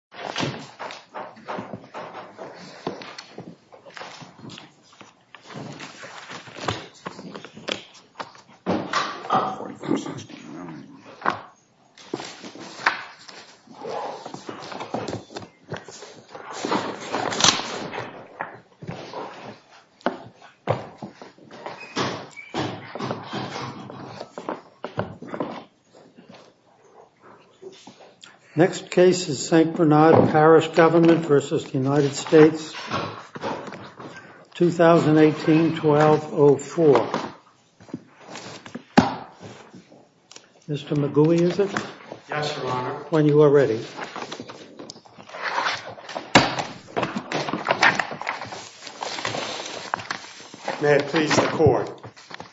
S.T. Bernard Parish Government v. United States S.T. Bernard Parish Government v. United States 2018-12-04 Mr. McGooey, is it? Yes, Your Honor. When you are ready. May it please the Court.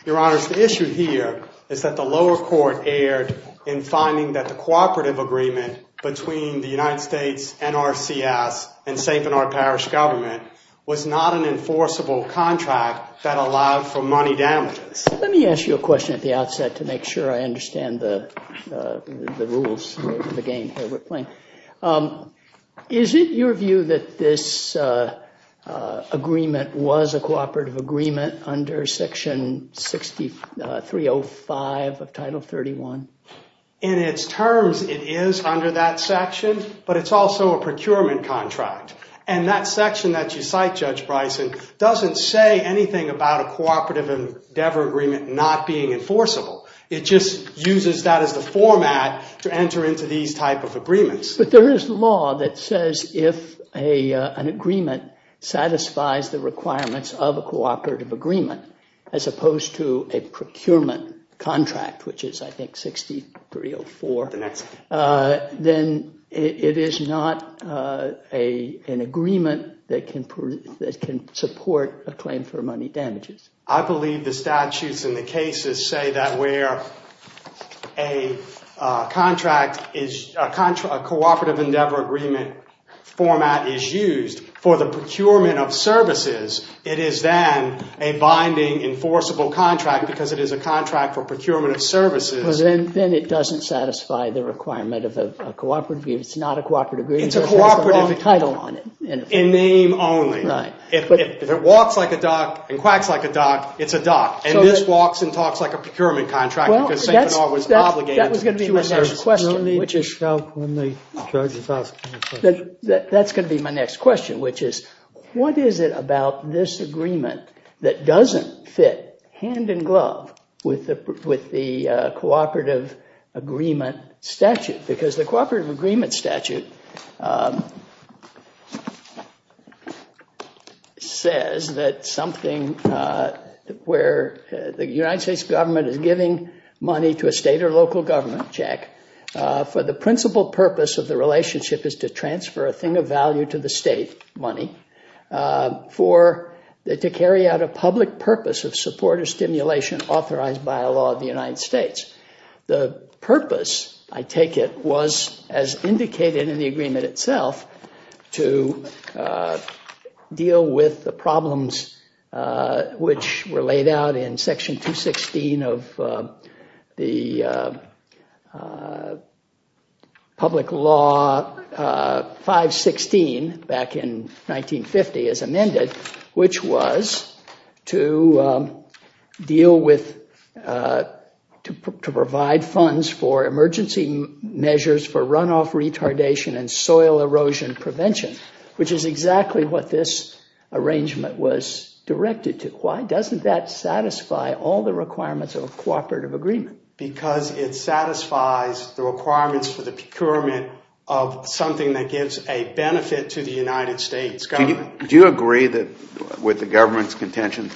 Your Honors, the issue here is that the lower court erred in finding that the cooperative agreement between the United States, NRCS, and S.T. Bernard Parish Government was not an enforceable contract that allowed for money damages. Let me ask you a question at the outset to make sure I understand the rules of the game that we're playing. Is it your view that this agreement was a cooperative agreement under Section 6305 of Title 31? In its terms, it is under that section, but it's also a procurement contract. And that section that you cite, Judge Bryson, doesn't say anything about a cooperative endeavor agreement not being enforceable. It just uses that as the format to enter into these type of agreements. But there is law that says if an agreement satisfies the requirements of a cooperative agreement, as opposed to a procurement contract, which is, I think, 6304, then it is not an agreement that can support a claim for money damages. I believe the statutes in the cases say that where a cooperative endeavor agreement format is used for the procurement of services, it is then a binding enforceable contract because it is a contract for procurement of services. Well, then it doesn't satisfy the requirement of a cooperative agreement. It's not a cooperative agreement. It's a cooperative agreement. It has a long title on it. In name only. Right. If it walks like a duck and quacks like a duck, it's a duck. And this walks and talks like a procurement contract because S.T. Bernard was obligated to do a service. That was going to be my next question. That's going to be my next question, which is, what is it about this agreement that doesn't fit hand in glove with the cooperative agreement statute? Because the cooperative agreement statute says that something where the United States government is giving money to a state or local government, Jack, for the principal purpose of the relationship is to transfer a thing of value to the state, money, to carry out a public purpose of support or stimulation authorized by a law of the United States. The purpose, I take it, was, as indicated in the agreement itself, to deal with the problems which were laid out in Section 216 of the Public Law 516 back in 1950 as amended, which was to provide funds for emergency measures for runoff retardation and soil erosion prevention, which is exactly what this arrangement was directed to. Why doesn't that satisfy all the requirements of a cooperative agreement? Because it satisfies the requirements for the procurement of something that gives a benefit to the United States government. So do you agree that with the government's contention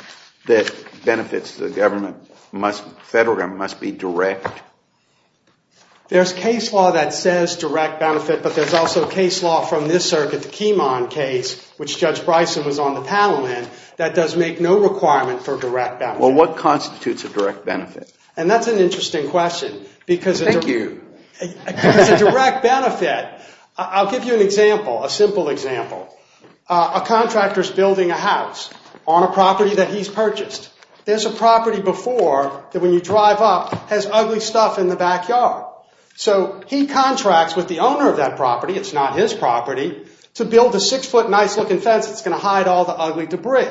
that benefits to the federal government must be direct? There's case law that says direct benefit, but there's also case law from this circuit, the Kemon case, which Judge Bryson was on the panel in, that does make no requirement for direct benefit. Well, what constitutes a direct benefit? And that's an interesting question. Thank you. It's a direct benefit. I'll give you an example, a simple example. A contractor's building a house on a property that he's purchased. There's a property before that, when you drive up, has ugly stuff in the backyard. So he contracts with the owner of that property, it's not his property, to build a six-foot nice-looking fence that's going to hide all the ugly debris.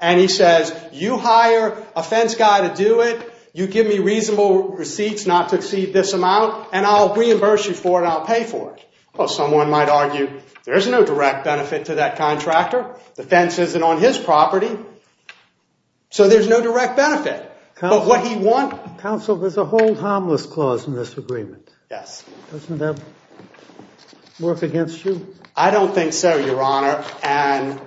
And he says, you hire a fence guy to do it, you give me reasonable receipts not to exceed this amount, and I'll reimburse you for it and I'll pay for it. Well, someone might argue, there's no direct benefit to that contractor. The fence isn't on his property, so there's no direct benefit. But what he wants— Counsel, there's a hold harmless clause in this agreement. Yes. Doesn't that work against you? I don't think so, Your Honor, and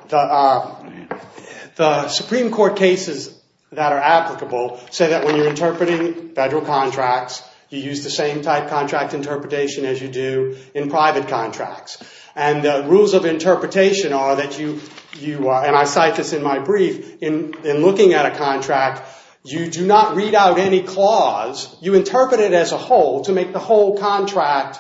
the Supreme Court cases that are applicable say that when you're interpreting federal contracts, you use the same type of contract interpretation as you do in private contracts. And the rules of interpretation are that you—and I cite this in my brief— in looking at a contract, you do not read out any clause, you interpret it as a whole to make the whole contract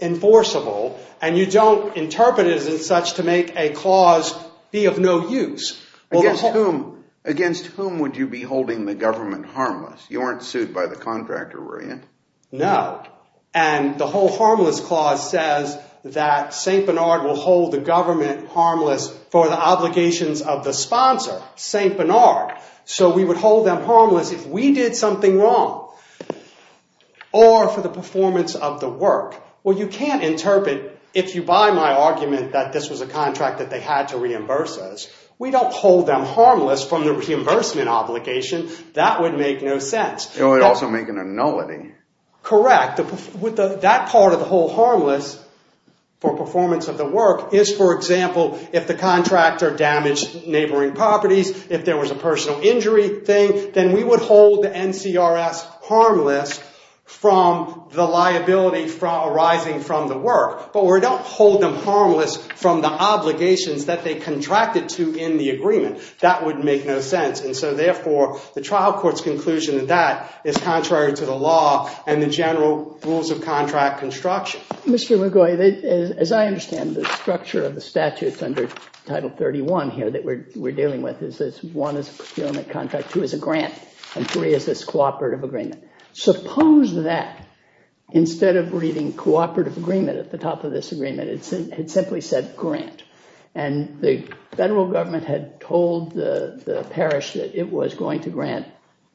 enforceable, and you don't interpret it as such to make a clause be of no use. Against whom would you be holding the government harmless? You aren't sued by the contractor, were you? No. And the whole harmless clause says that St. Bernard will hold the government harmless for the obligations of the sponsor, St. Bernard. So we would hold them harmless if we did something wrong, or for the performance of the work. Well, you can't interpret, if you buy my argument, that this was a contract that they had to reimburse us. We don't hold them harmless from the reimbursement obligation. That would make no sense. It would also make a nullity. Correct. That part of the whole harmless for performance of the work is, for example, if the contractor damaged neighboring properties, if there was a personal injury thing, then we would hold the NCRS harmless from the liability arising from the work. But we don't hold them harmless from the obligations that they contracted to in the agreement. That would make no sense. And so, therefore, the trial court's conclusion to that is contrary to the law and the general rules of contract construction. Mr. McGaughy, as I understand, the structure of the statutes under Title 31 here that we're dealing with is this one is a procurement contract, two is a grant, and three is this cooperative agreement. Suppose that instead of reading cooperative agreement at the top of this agreement, it simply said grant. And the federal government had told the parish that it was going to grant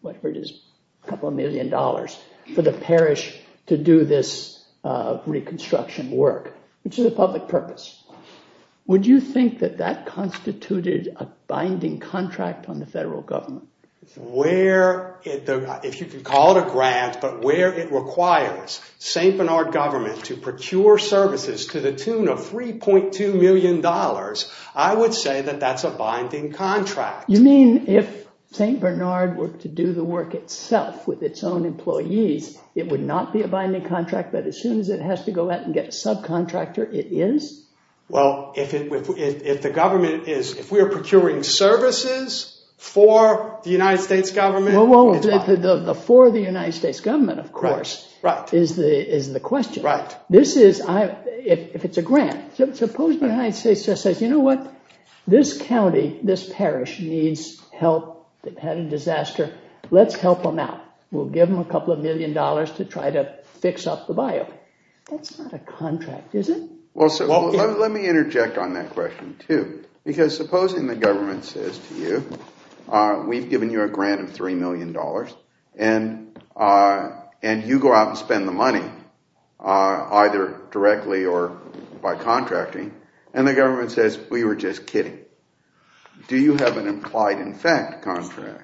whatever it is, a couple of million dollars for the parish to do this reconstruction work, which is a public purpose. Would you think that that constituted a binding contract on the federal government? If you can call it a grant, but where it requires St. Bernard government to procure services to the tune of $3.2 million, I would say that that's a binding contract. You mean if St. Bernard were to do the work itself with its own employees, it would not be a binding contract, but as soon as it has to go out and get a subcontractor it is? Well, if the government is, if we are procuring services for the United States government, it's binding. Well, the for the United States government, of course, is the question. Right. This is, if it's a grant, suppose the United States just says, you know what, this county, this parish needs help. They've had a disaster. Let's help them out. We'll give them a couple of million dollars to try to fix up the biome. That's not a contract, is it? Well, let me interject on that question, too, because supposing the government says to you, we've given you a grant of $3 million, and you go out and spend the money, either directly or by contracting, and the government says, we were just kidding. Do you have an implied-in-fact contract?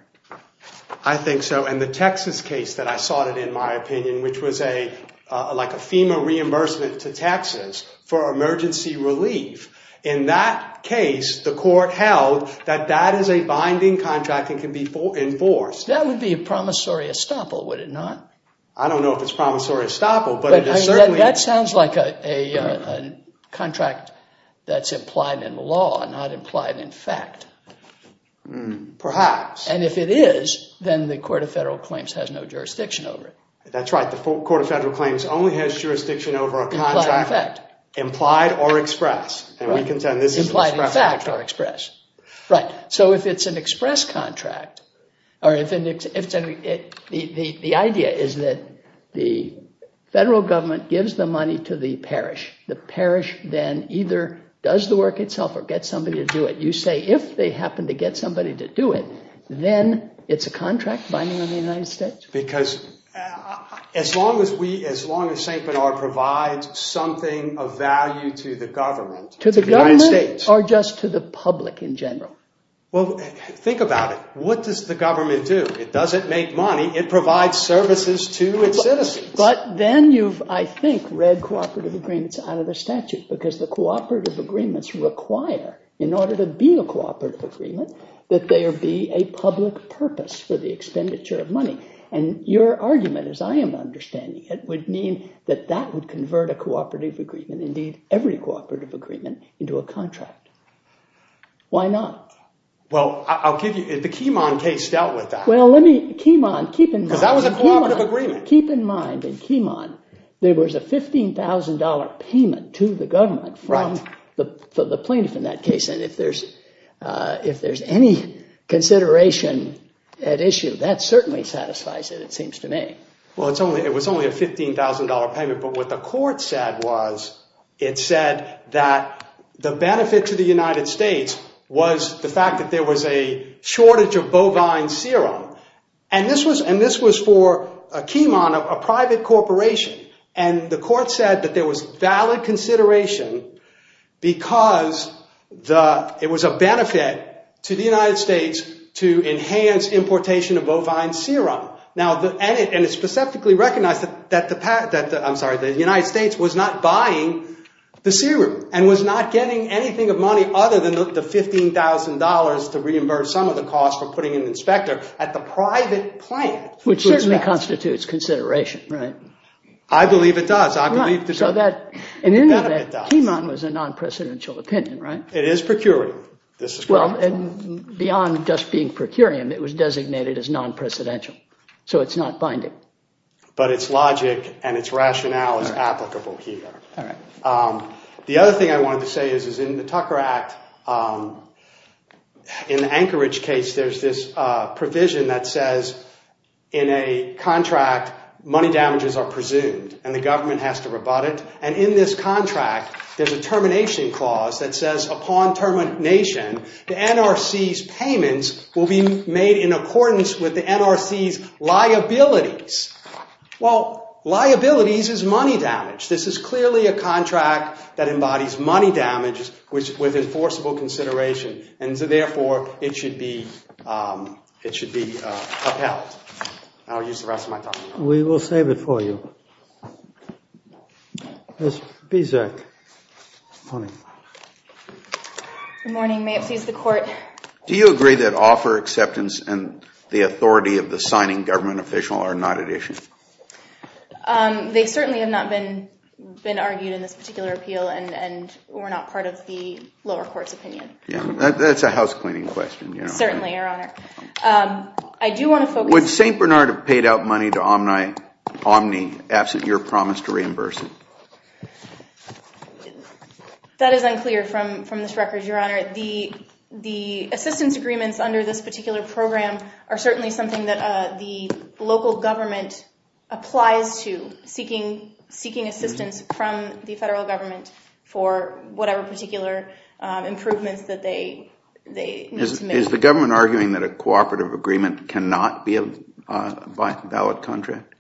I think so, and the Texas case that I sought in, in my opinion, which was like a FEMA reimbursement to Texas for emergency relief. In that case, the court held that that is a binding contract and can be enforced. That would be a promissory estoppel, would it not? I don't know if it's promissory estoppel, but it is certainly. That sounds like a contract that's implied in law, not implied in fact. Perhaps. And if it is, then the Court of Federal Claims has no jurisdiction over it. That's right. The Court of Federal Claims only has jurisdiction over a contract implied or express. And we contend this is an express contract. Right. So if it's an express contract, the idea is that the federal government gives the money to the parish. The parish then either does the work itself or gets somebody to do it. You say if they happen to get somebody to do it, then it's a contract binding on the United States? Because as long as St. Bernard provides something of value to the government, To the government or just to the public in general? Well, think about it. What does the government do? It doesn't make money. It provides services to its citizens. But then you've, I think, read cooperative agreements out of the statute because the cooperative agreements require, in order to be a cooperative agreement, that there be a public purpose for the expenditure of money. And your argument, as I am understanding it, would mean that that would convert a cooperative agreement, indeed every cooperative agreement, into a contract. Why not? Well, I'll give you, the Keymon case dealt with that. Well, let me, Keymon, keep in mind. Because that was a cooperative agreement. Keep in mind, in Keymon, there was a $15,000 payment to the government from the plaintiff in that case. And if there's any consideration at issue, that certainly satisfies it, it seems to me. Well, it was only a $15,000 payment. But what the court said was, it said that the benefit to the United States was the fact that there was a shortage of bovine serum. And this was for a Keymon, a private corporation. And the court said that there was valid consideration because it was a benefit to the United States to enhance importation of bovine serum. And it specifically recognized that the United States was not buying the serum and was not getting anything of money other than the $15,000 to reimburse some of the cost for putting an inspector at the private plant. Which certainly constitutes consideration. Right. I believe it does. So that, in any event, Keymon was a non-precedential opinion, right? It is procuring. Well, and beyond just being procuring, it was designated as non-precedential. So it's not binding. But its logic and its rationale is applicable here. The other thing I wanted to say is, is in the Tucker Act, in the Anchorage case, there's this provision that says in a contract money damages are presumed and the government has to rebut it. And in this contract, there's a termination clause that says upon termination, the NRC's payments will be made in accordance with the NRC's liabilities. Well, liabilities is money damage. This is clearly a contract that embodies money damage with enforceable consideration. And so therefore, it should be upheld. I'll use the rest of my time. We will save it for you. Ms. Bezek. Good morning. Good morning. May it please the court. Do you agree that offer acceptance and the authority of the signing government official are not at issue? They certainly have not been argued in this particular appeal and were not part of the lower court's opinion. That's a housecleaning question. Certainly, Your Honor. Would St. Bernard have paid out money to Omni absent your promise to reimburse it? That is unclear from this record, Your Honor. The assistance agreements under this particular program are certainly something that the local government applies to, seeking assistance from the federal government for whatever particular improvements that they need to make. Is the government arguing that a cooperative agreement cannot be a valid contract?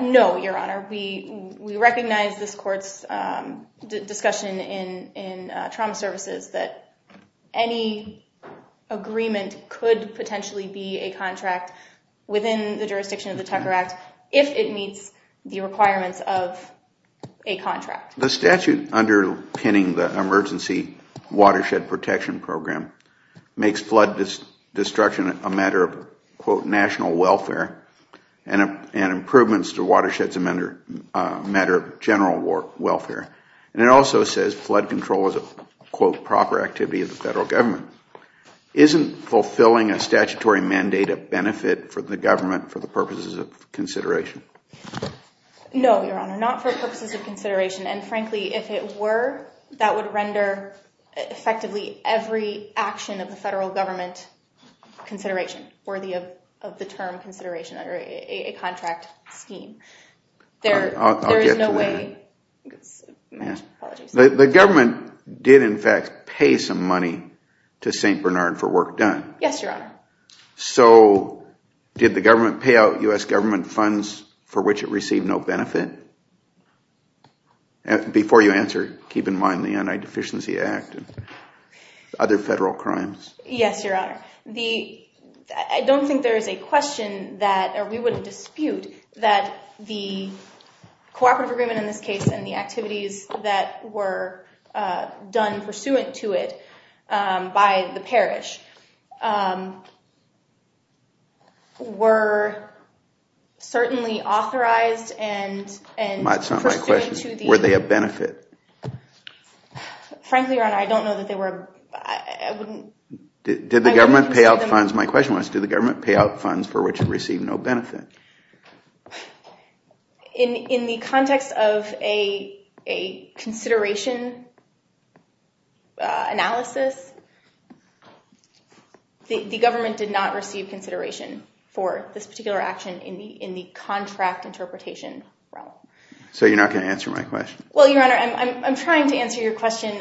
No, Your Honor. We recognize this court's discussion in trauma services that any agreement could potentially be a contract within the jurisdiction of the Tucker Act if it meets the requirements of a contract. The statute underpinning the emergency watershed protection program makes flood destruction a matter of quote national welfare and improvements to watersheds a matter of general welfare. It also says flood control is a quote proper activity of the federal government. Isn't fulfilling a statutory mandate a benefit for the government for the purposes of consideration? No, Your Honor. Not for purposes of consideration. And frankly, if it were, that would render effectively every action of the federal government consideration worthy of the term consideration under a contract scheme. There is no way. I'll get to that. The government did in fact pay some money to St. Bernard for work done. Yes, Your Honor. So did the government pay out U.S. government funds for which it received no benefit? Before you answer, keep in mind the Anti-Deficiency Act and other federal crimes. Yes, Your Honor. I don't think there is a question that we would dispute that the cooperative agreement in this case and the activities that were done pursuant to it by the parish were certainly authorized and That's not my question. Were they a benefit? Frankly, Your Honor, I don't know that they were. My question was, did the government pay out funds for which it received no benefit? In the context of a consideration analysis, the government did not receive consideration for this particular action in the contract interpretation realm. So you're not going to answer my question? Well, Your Honor, I'm trying to answer your question.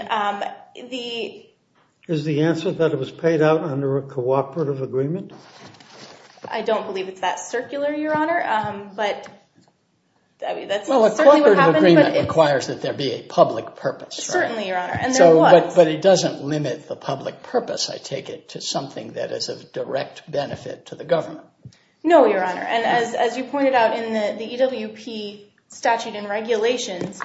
Is the answer that it was paid out under a cooperative agreement? I don't believe it's that circular, Your Honor. Well, a cooperative agreement requires that there be a public purpose. Certainly, Your Honor. But it doesn't limit the public purpose, I take it, to something that is of direct benefit to the government. No, Your Honor. And as you pointed out in the EWP statute and regulations,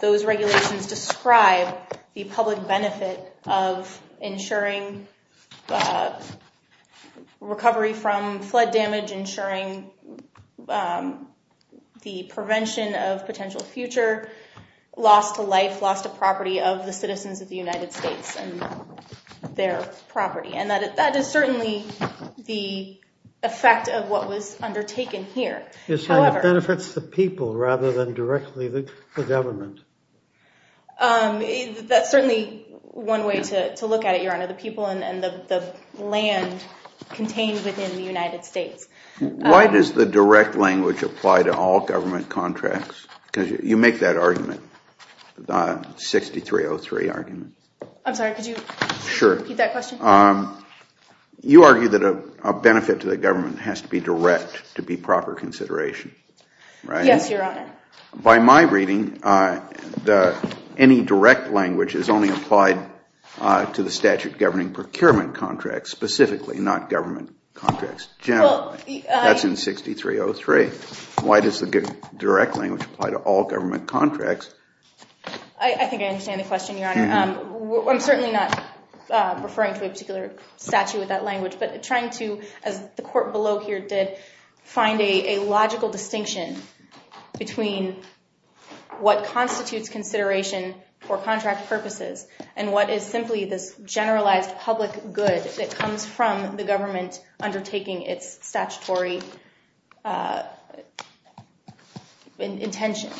those regulations describe the public benefit of ensuring recovery from flood damage, ensuring the prevention of potential future loss to life, loss to property of the citizens of the United States and their property. And that is certainly the effect of what was undertaken here. So it benefits the people rather than directly the government? That's certainly one way to look at it, Your Honor, the people and the land contained within the United States. Why does the direct language apply to all government contracts? Because you make that argument, 6303 argument. I'm sorry, could you repeat that question? You argue that a benefit to the government has to be direct to be proper consideration, right? Yes, Your Honor. By my reading, any direct language is only applied to the statute governing procurement contracts specifically, not government contracts generally. That's in 6303. Why does the direct language apply to all government contracts? I think I understand the question, Your Honor. I'm certainly not referring to a particular statute with that language, but trying to, as the court below here did, find a logical distinction between what constitutes consideration for contract purposes and what is simply this generalized public good that comes from the government undertaking its statutory intention.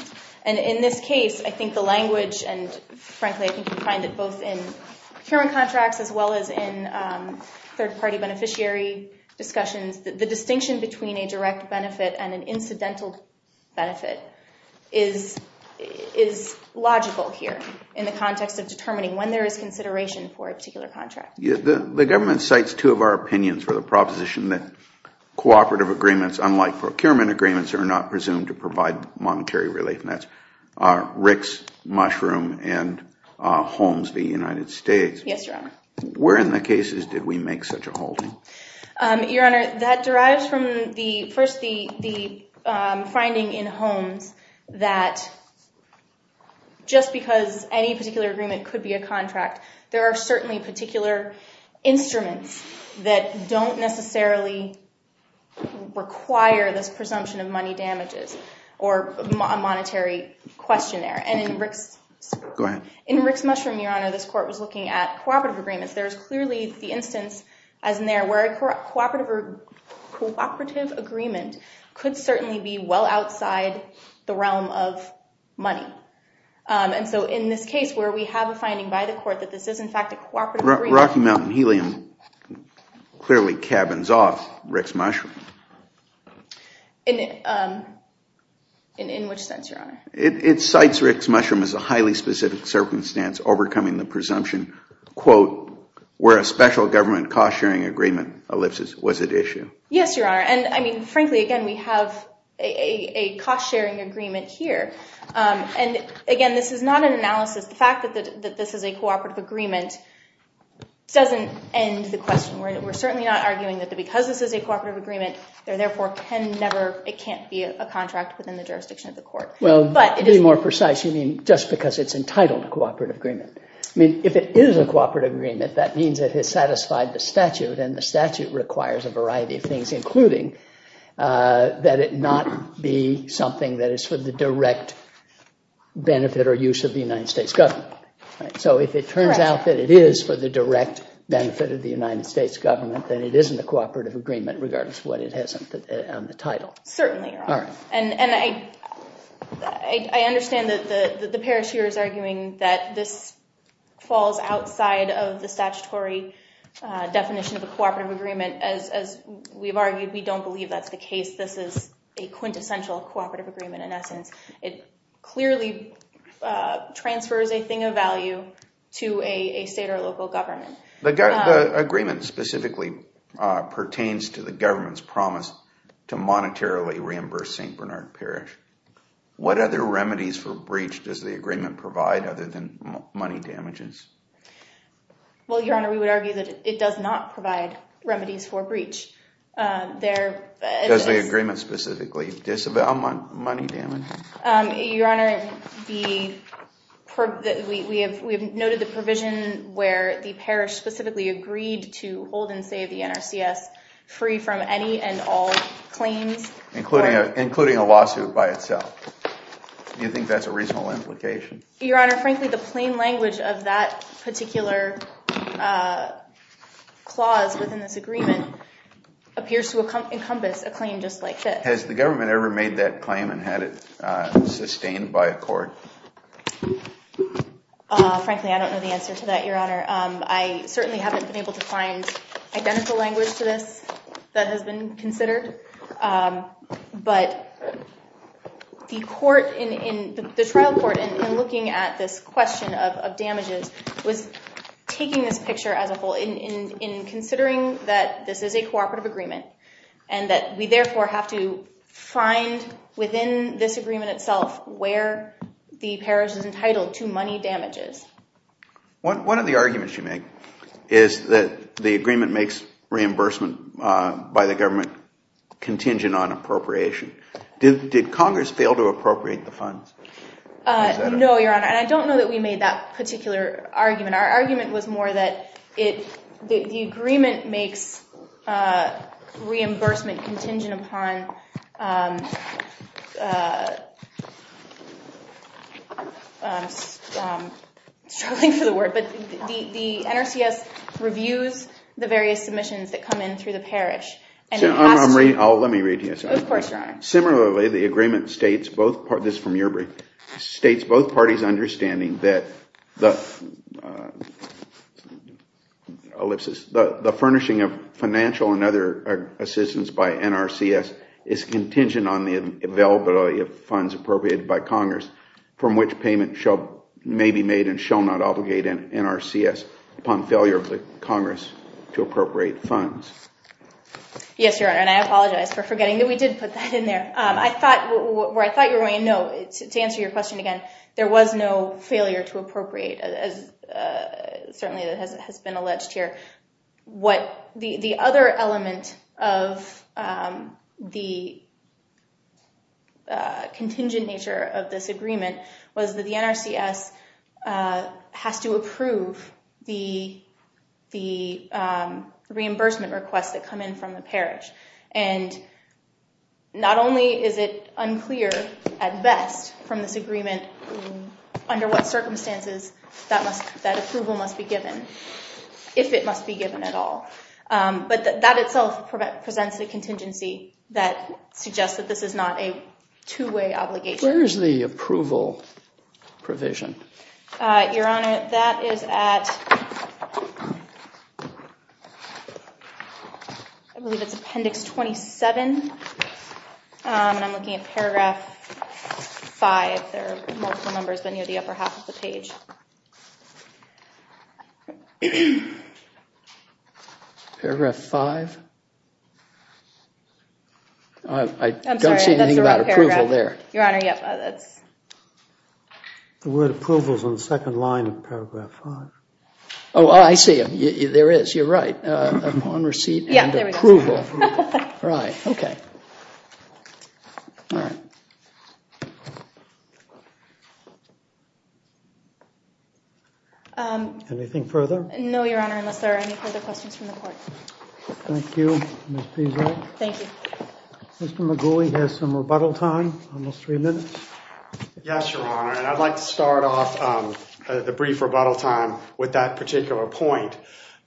And in this case, I think the language, and frankly I think you'll find it both in procurement contracts as well as in third-party beneficiary discussions, the distinction between a direct benefit and an incidental benefit is logical here in the context of determining when there is consideration for a particular contract. The government cites two of our opinions for the proposition that cooperative agreements, unlike procurement agreements, are not presumed to provide monetary relief, and that's Ricks, Mushroom, and Holmes v. United States. Yes, Your Honor. Where in the cases did we make such a holding? Your Honor, that derives from first the finding in Holmes that just because any particular agreement could be a contract, there are certainly particular instruments that don't necessarily require this presumption of money damages or a monetary questionnaire. Go ahead. In Ricks, Mushroom, Your Honor, this court was looking at cooperative agreements. There is clearly the instance, as in there, where a cooperative agreement could certainly be well outside the realm of money. And so in this case where we have a finding by the court that this is, in fact, a cooperative agreement. Rocky Mountain Helium clearly cabins off Ricks, Mushroom. In which sense, Your Honor? It cites Ricks, Mushroom as a highly specific circumstance overcoming the presumption, quote, where a special government cost-sharing agreement elipses. Was it issued? Yes, Your Honor. And frankly, again, we have a cost-sharing agreement here. And again, this is not an analysis. The fact that this is a cooperative agreement doesn't end the question. We're certainly not arguing that because this is a cooperative agreement, therefore it can't be a contract within the jurisdiction of the court. Well, to be more precise, you mean just because it's entitled a cooperative agreement. I mean, if it is a cooperative agreement, that means it has satisfied the statute. And the statute requires a variety of things, including that it not be something that is for the direct benefit or use of the United States government. So if it turns out that it is for the direct benefit of the United States government, then it isn't a cooperative agreement regardless of what it has on the title. Certainly, Your Honor. And I understand that the parish here is arguing that this falls outside of the statutory definition of a cooperative agreement. As we've argued, we don't believe that's the case. This is a quintessential cooperative agreement in essence. It clearly transfers a thing of value to a state or local government. The agreement specifically pertains to the government's promise to monetarily reimburse St. Bernard Parish. What other remedies for breach does the agreement provide other than money damages? Well, Your Honor, we would argue that it does not provide remedies for breach. Does the agreement specifically disavow money damages? Your Honor, we have noted the provision where the parish specifically agreed to hold and save the NRCS free from any and all claims. Including a lawsuit by itself? Do you think that's a reasonable implication? Your Honor, frankly, the plain language of that particular clause within this agreement appears to encompass a claim just like this. Has the government ever made that claim and had it sustained by a court? Frankly, I don't know the answer to that, Your Honor. I certainly haven't been able to find identical language to this that has been considered. But the trial court, in looking at this question of damages, was taking this picture as a whole. In considering that this is a cooperative agreement and that we therefore have to find within this agreement itself where the parish is entitled to money damages. One of the arguments you make is that the agreement makes reimbursement by the government contingent on appropriation. Did Congress fail to appropriate the funds? No, Your Honor. And I don't know that we made that particular argument. Our argument was more that the agreement makes reimbursement contingent upon... I'm struggling for the word. But the NRCS reviews the various submissions that come in through the parish. Let me read to you. Of course, Your Honor. Similarly, the agreement states both parties understanding that the furnishing of financial and other assistance by NRCS is contingent on the availability of funds appropriated by Congress, from which payment may be made and shall not obligate NRCS upon failure of Congress to appropriate funds. Yes, Your Honor. And I apologize for forgetting that we did put that in there. Where I thought you were going, no, to answer your question again, there was no failure to appropriate, as certainly has been alleged here. The other element of the contingent nature of this agreement was that the NRCS has to approve the reimbursement requests that come in from the parish. And not only is it unclear at best from this agreement under what circumstances that approval must be given, if it must be given at all, but that itself presents the contingency that suggests that this is not a two-way obligation. Where is the approval provision? Your Honor, that is at, I believe it's appendix 27. And I'm looking at paragraph 5. There are multiple numbers near the upper half of the page. Paragraph 5? I don't see anything about approval there. Your Honor, yes. The word approval is on the second line of paragraph 5. Oh, I see it. There is. You're right. Upon receipt and approval. Yeah, there we go. Right. OK. All right. Anything further? No, Your Honor, unless there are any further questions from the court. Thank you, Ms. Pizzo. Thank you. Mr. McGooley has some rebuttal time, almost three minutes. Yes, Your Honor, and I'd like to start off the brief rebuttal time with that particular point.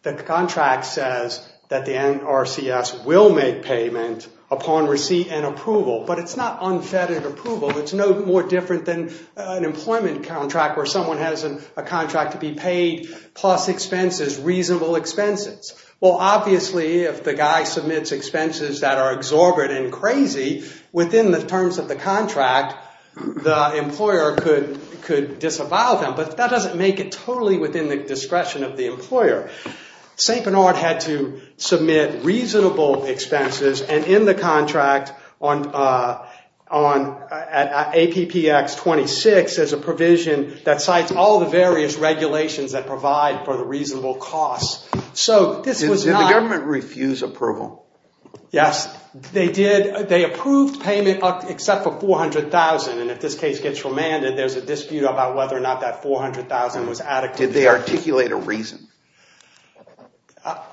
The contract says that the NRCS will make payment upon receipt and approval. But it's not unfettered approval. It's no more different than an employment contract where someone has a contract to be paid, plus expenses, reasonable expenses. Well, obviously, if the guy submits expenses that are exorbitant and crazy, within the terms of the contract, the employer could disavow them. But that doesn't make it totally within the discretion of the employer. St. Bernard had to submit reasonable expenses, and in the contract, on APPX 26, there's a provision that cites all the various regulations that provide for the reasonable costs. Did the government refuse approval? Yes, they did. They approved payment except for $400,000, and if this case gets remanded, there's a dispute about whether or not that $400,000 was adequate. Did they articulate a reason?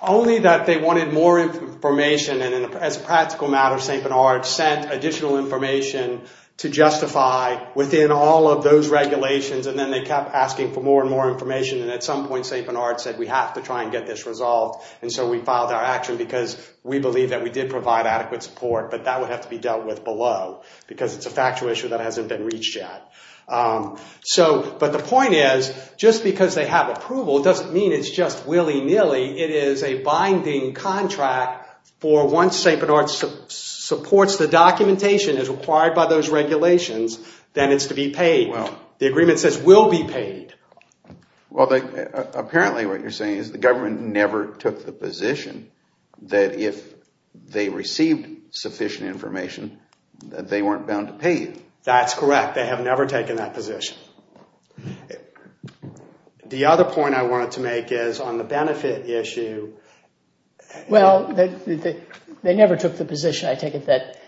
Only that they wanted more information, and as a practical matter, St. Bernard sent additional information to justify within all of those regulations. And then they kept asking for more and more information, and at some point, St. Bernard said, we have to try and get this resolved. And so we filed our action because we believe that we did provide adequate support, but that would have to be dealt with below because it's a factual issue that hasn't been reached yet. But the point is, just because they have approval doesn't mean it's just willy-nilly. It is a binding contract for once St. Bernard supports the documentation as required by those regulations, then it's to be paid. The agreement says will be paid. Well, apparently what you're saying is the government never took the position that if they received sufficient information, that they weren't bound to pay you. That's correct. They have never taken that position. The other point I wanted to make is on the benefit issue. Well, they never took the position, I take it, that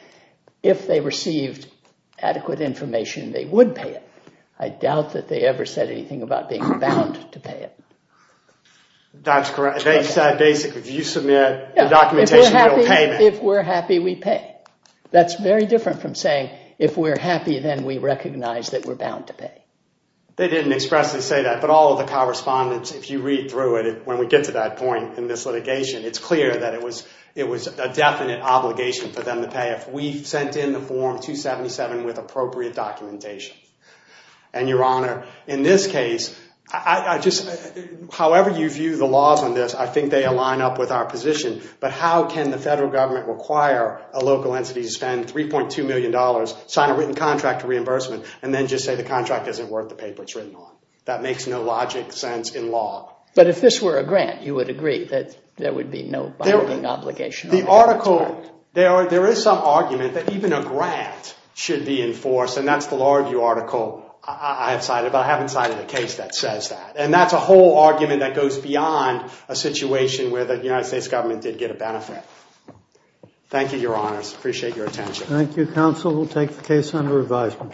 if they received adequate information, they would pay it. I doubt that they ever said anything about being bound to pay it. That's correct. They said basically, if you submit the documentation, you'll pay me. If we're happy, we pay. That's very different from saying if we're happy, then we recognize that we're bound to pay. They didn't expressly say that, but all of the correspondence, if you read through it, when we get to that point in this litigation, it's clear that it was a definite obligation for them to pay if we sent in the Form 277 with appropriate documentation. And, Your Honor, in this case, however you view the laws on this, I think they align up with our position. But how can the federal government require a local entity to spend $3.2 million, sign a written contract of reimbursement, and then just say the contract isn't worth the paper it's written on? That makes no logic sense in law. But if this were a grant, you would agree that there would be no binding obligation? There is some argument that even a grant should be enforced, and that's the law review article I have cited. But I haven't cited a case that says that. And that's a whole argument that goes beyond a situation where the United States government did get a benefit. Thank you, Your Honors. I appreciate your attention. Thank you, counsel. We'll take the case under advisement.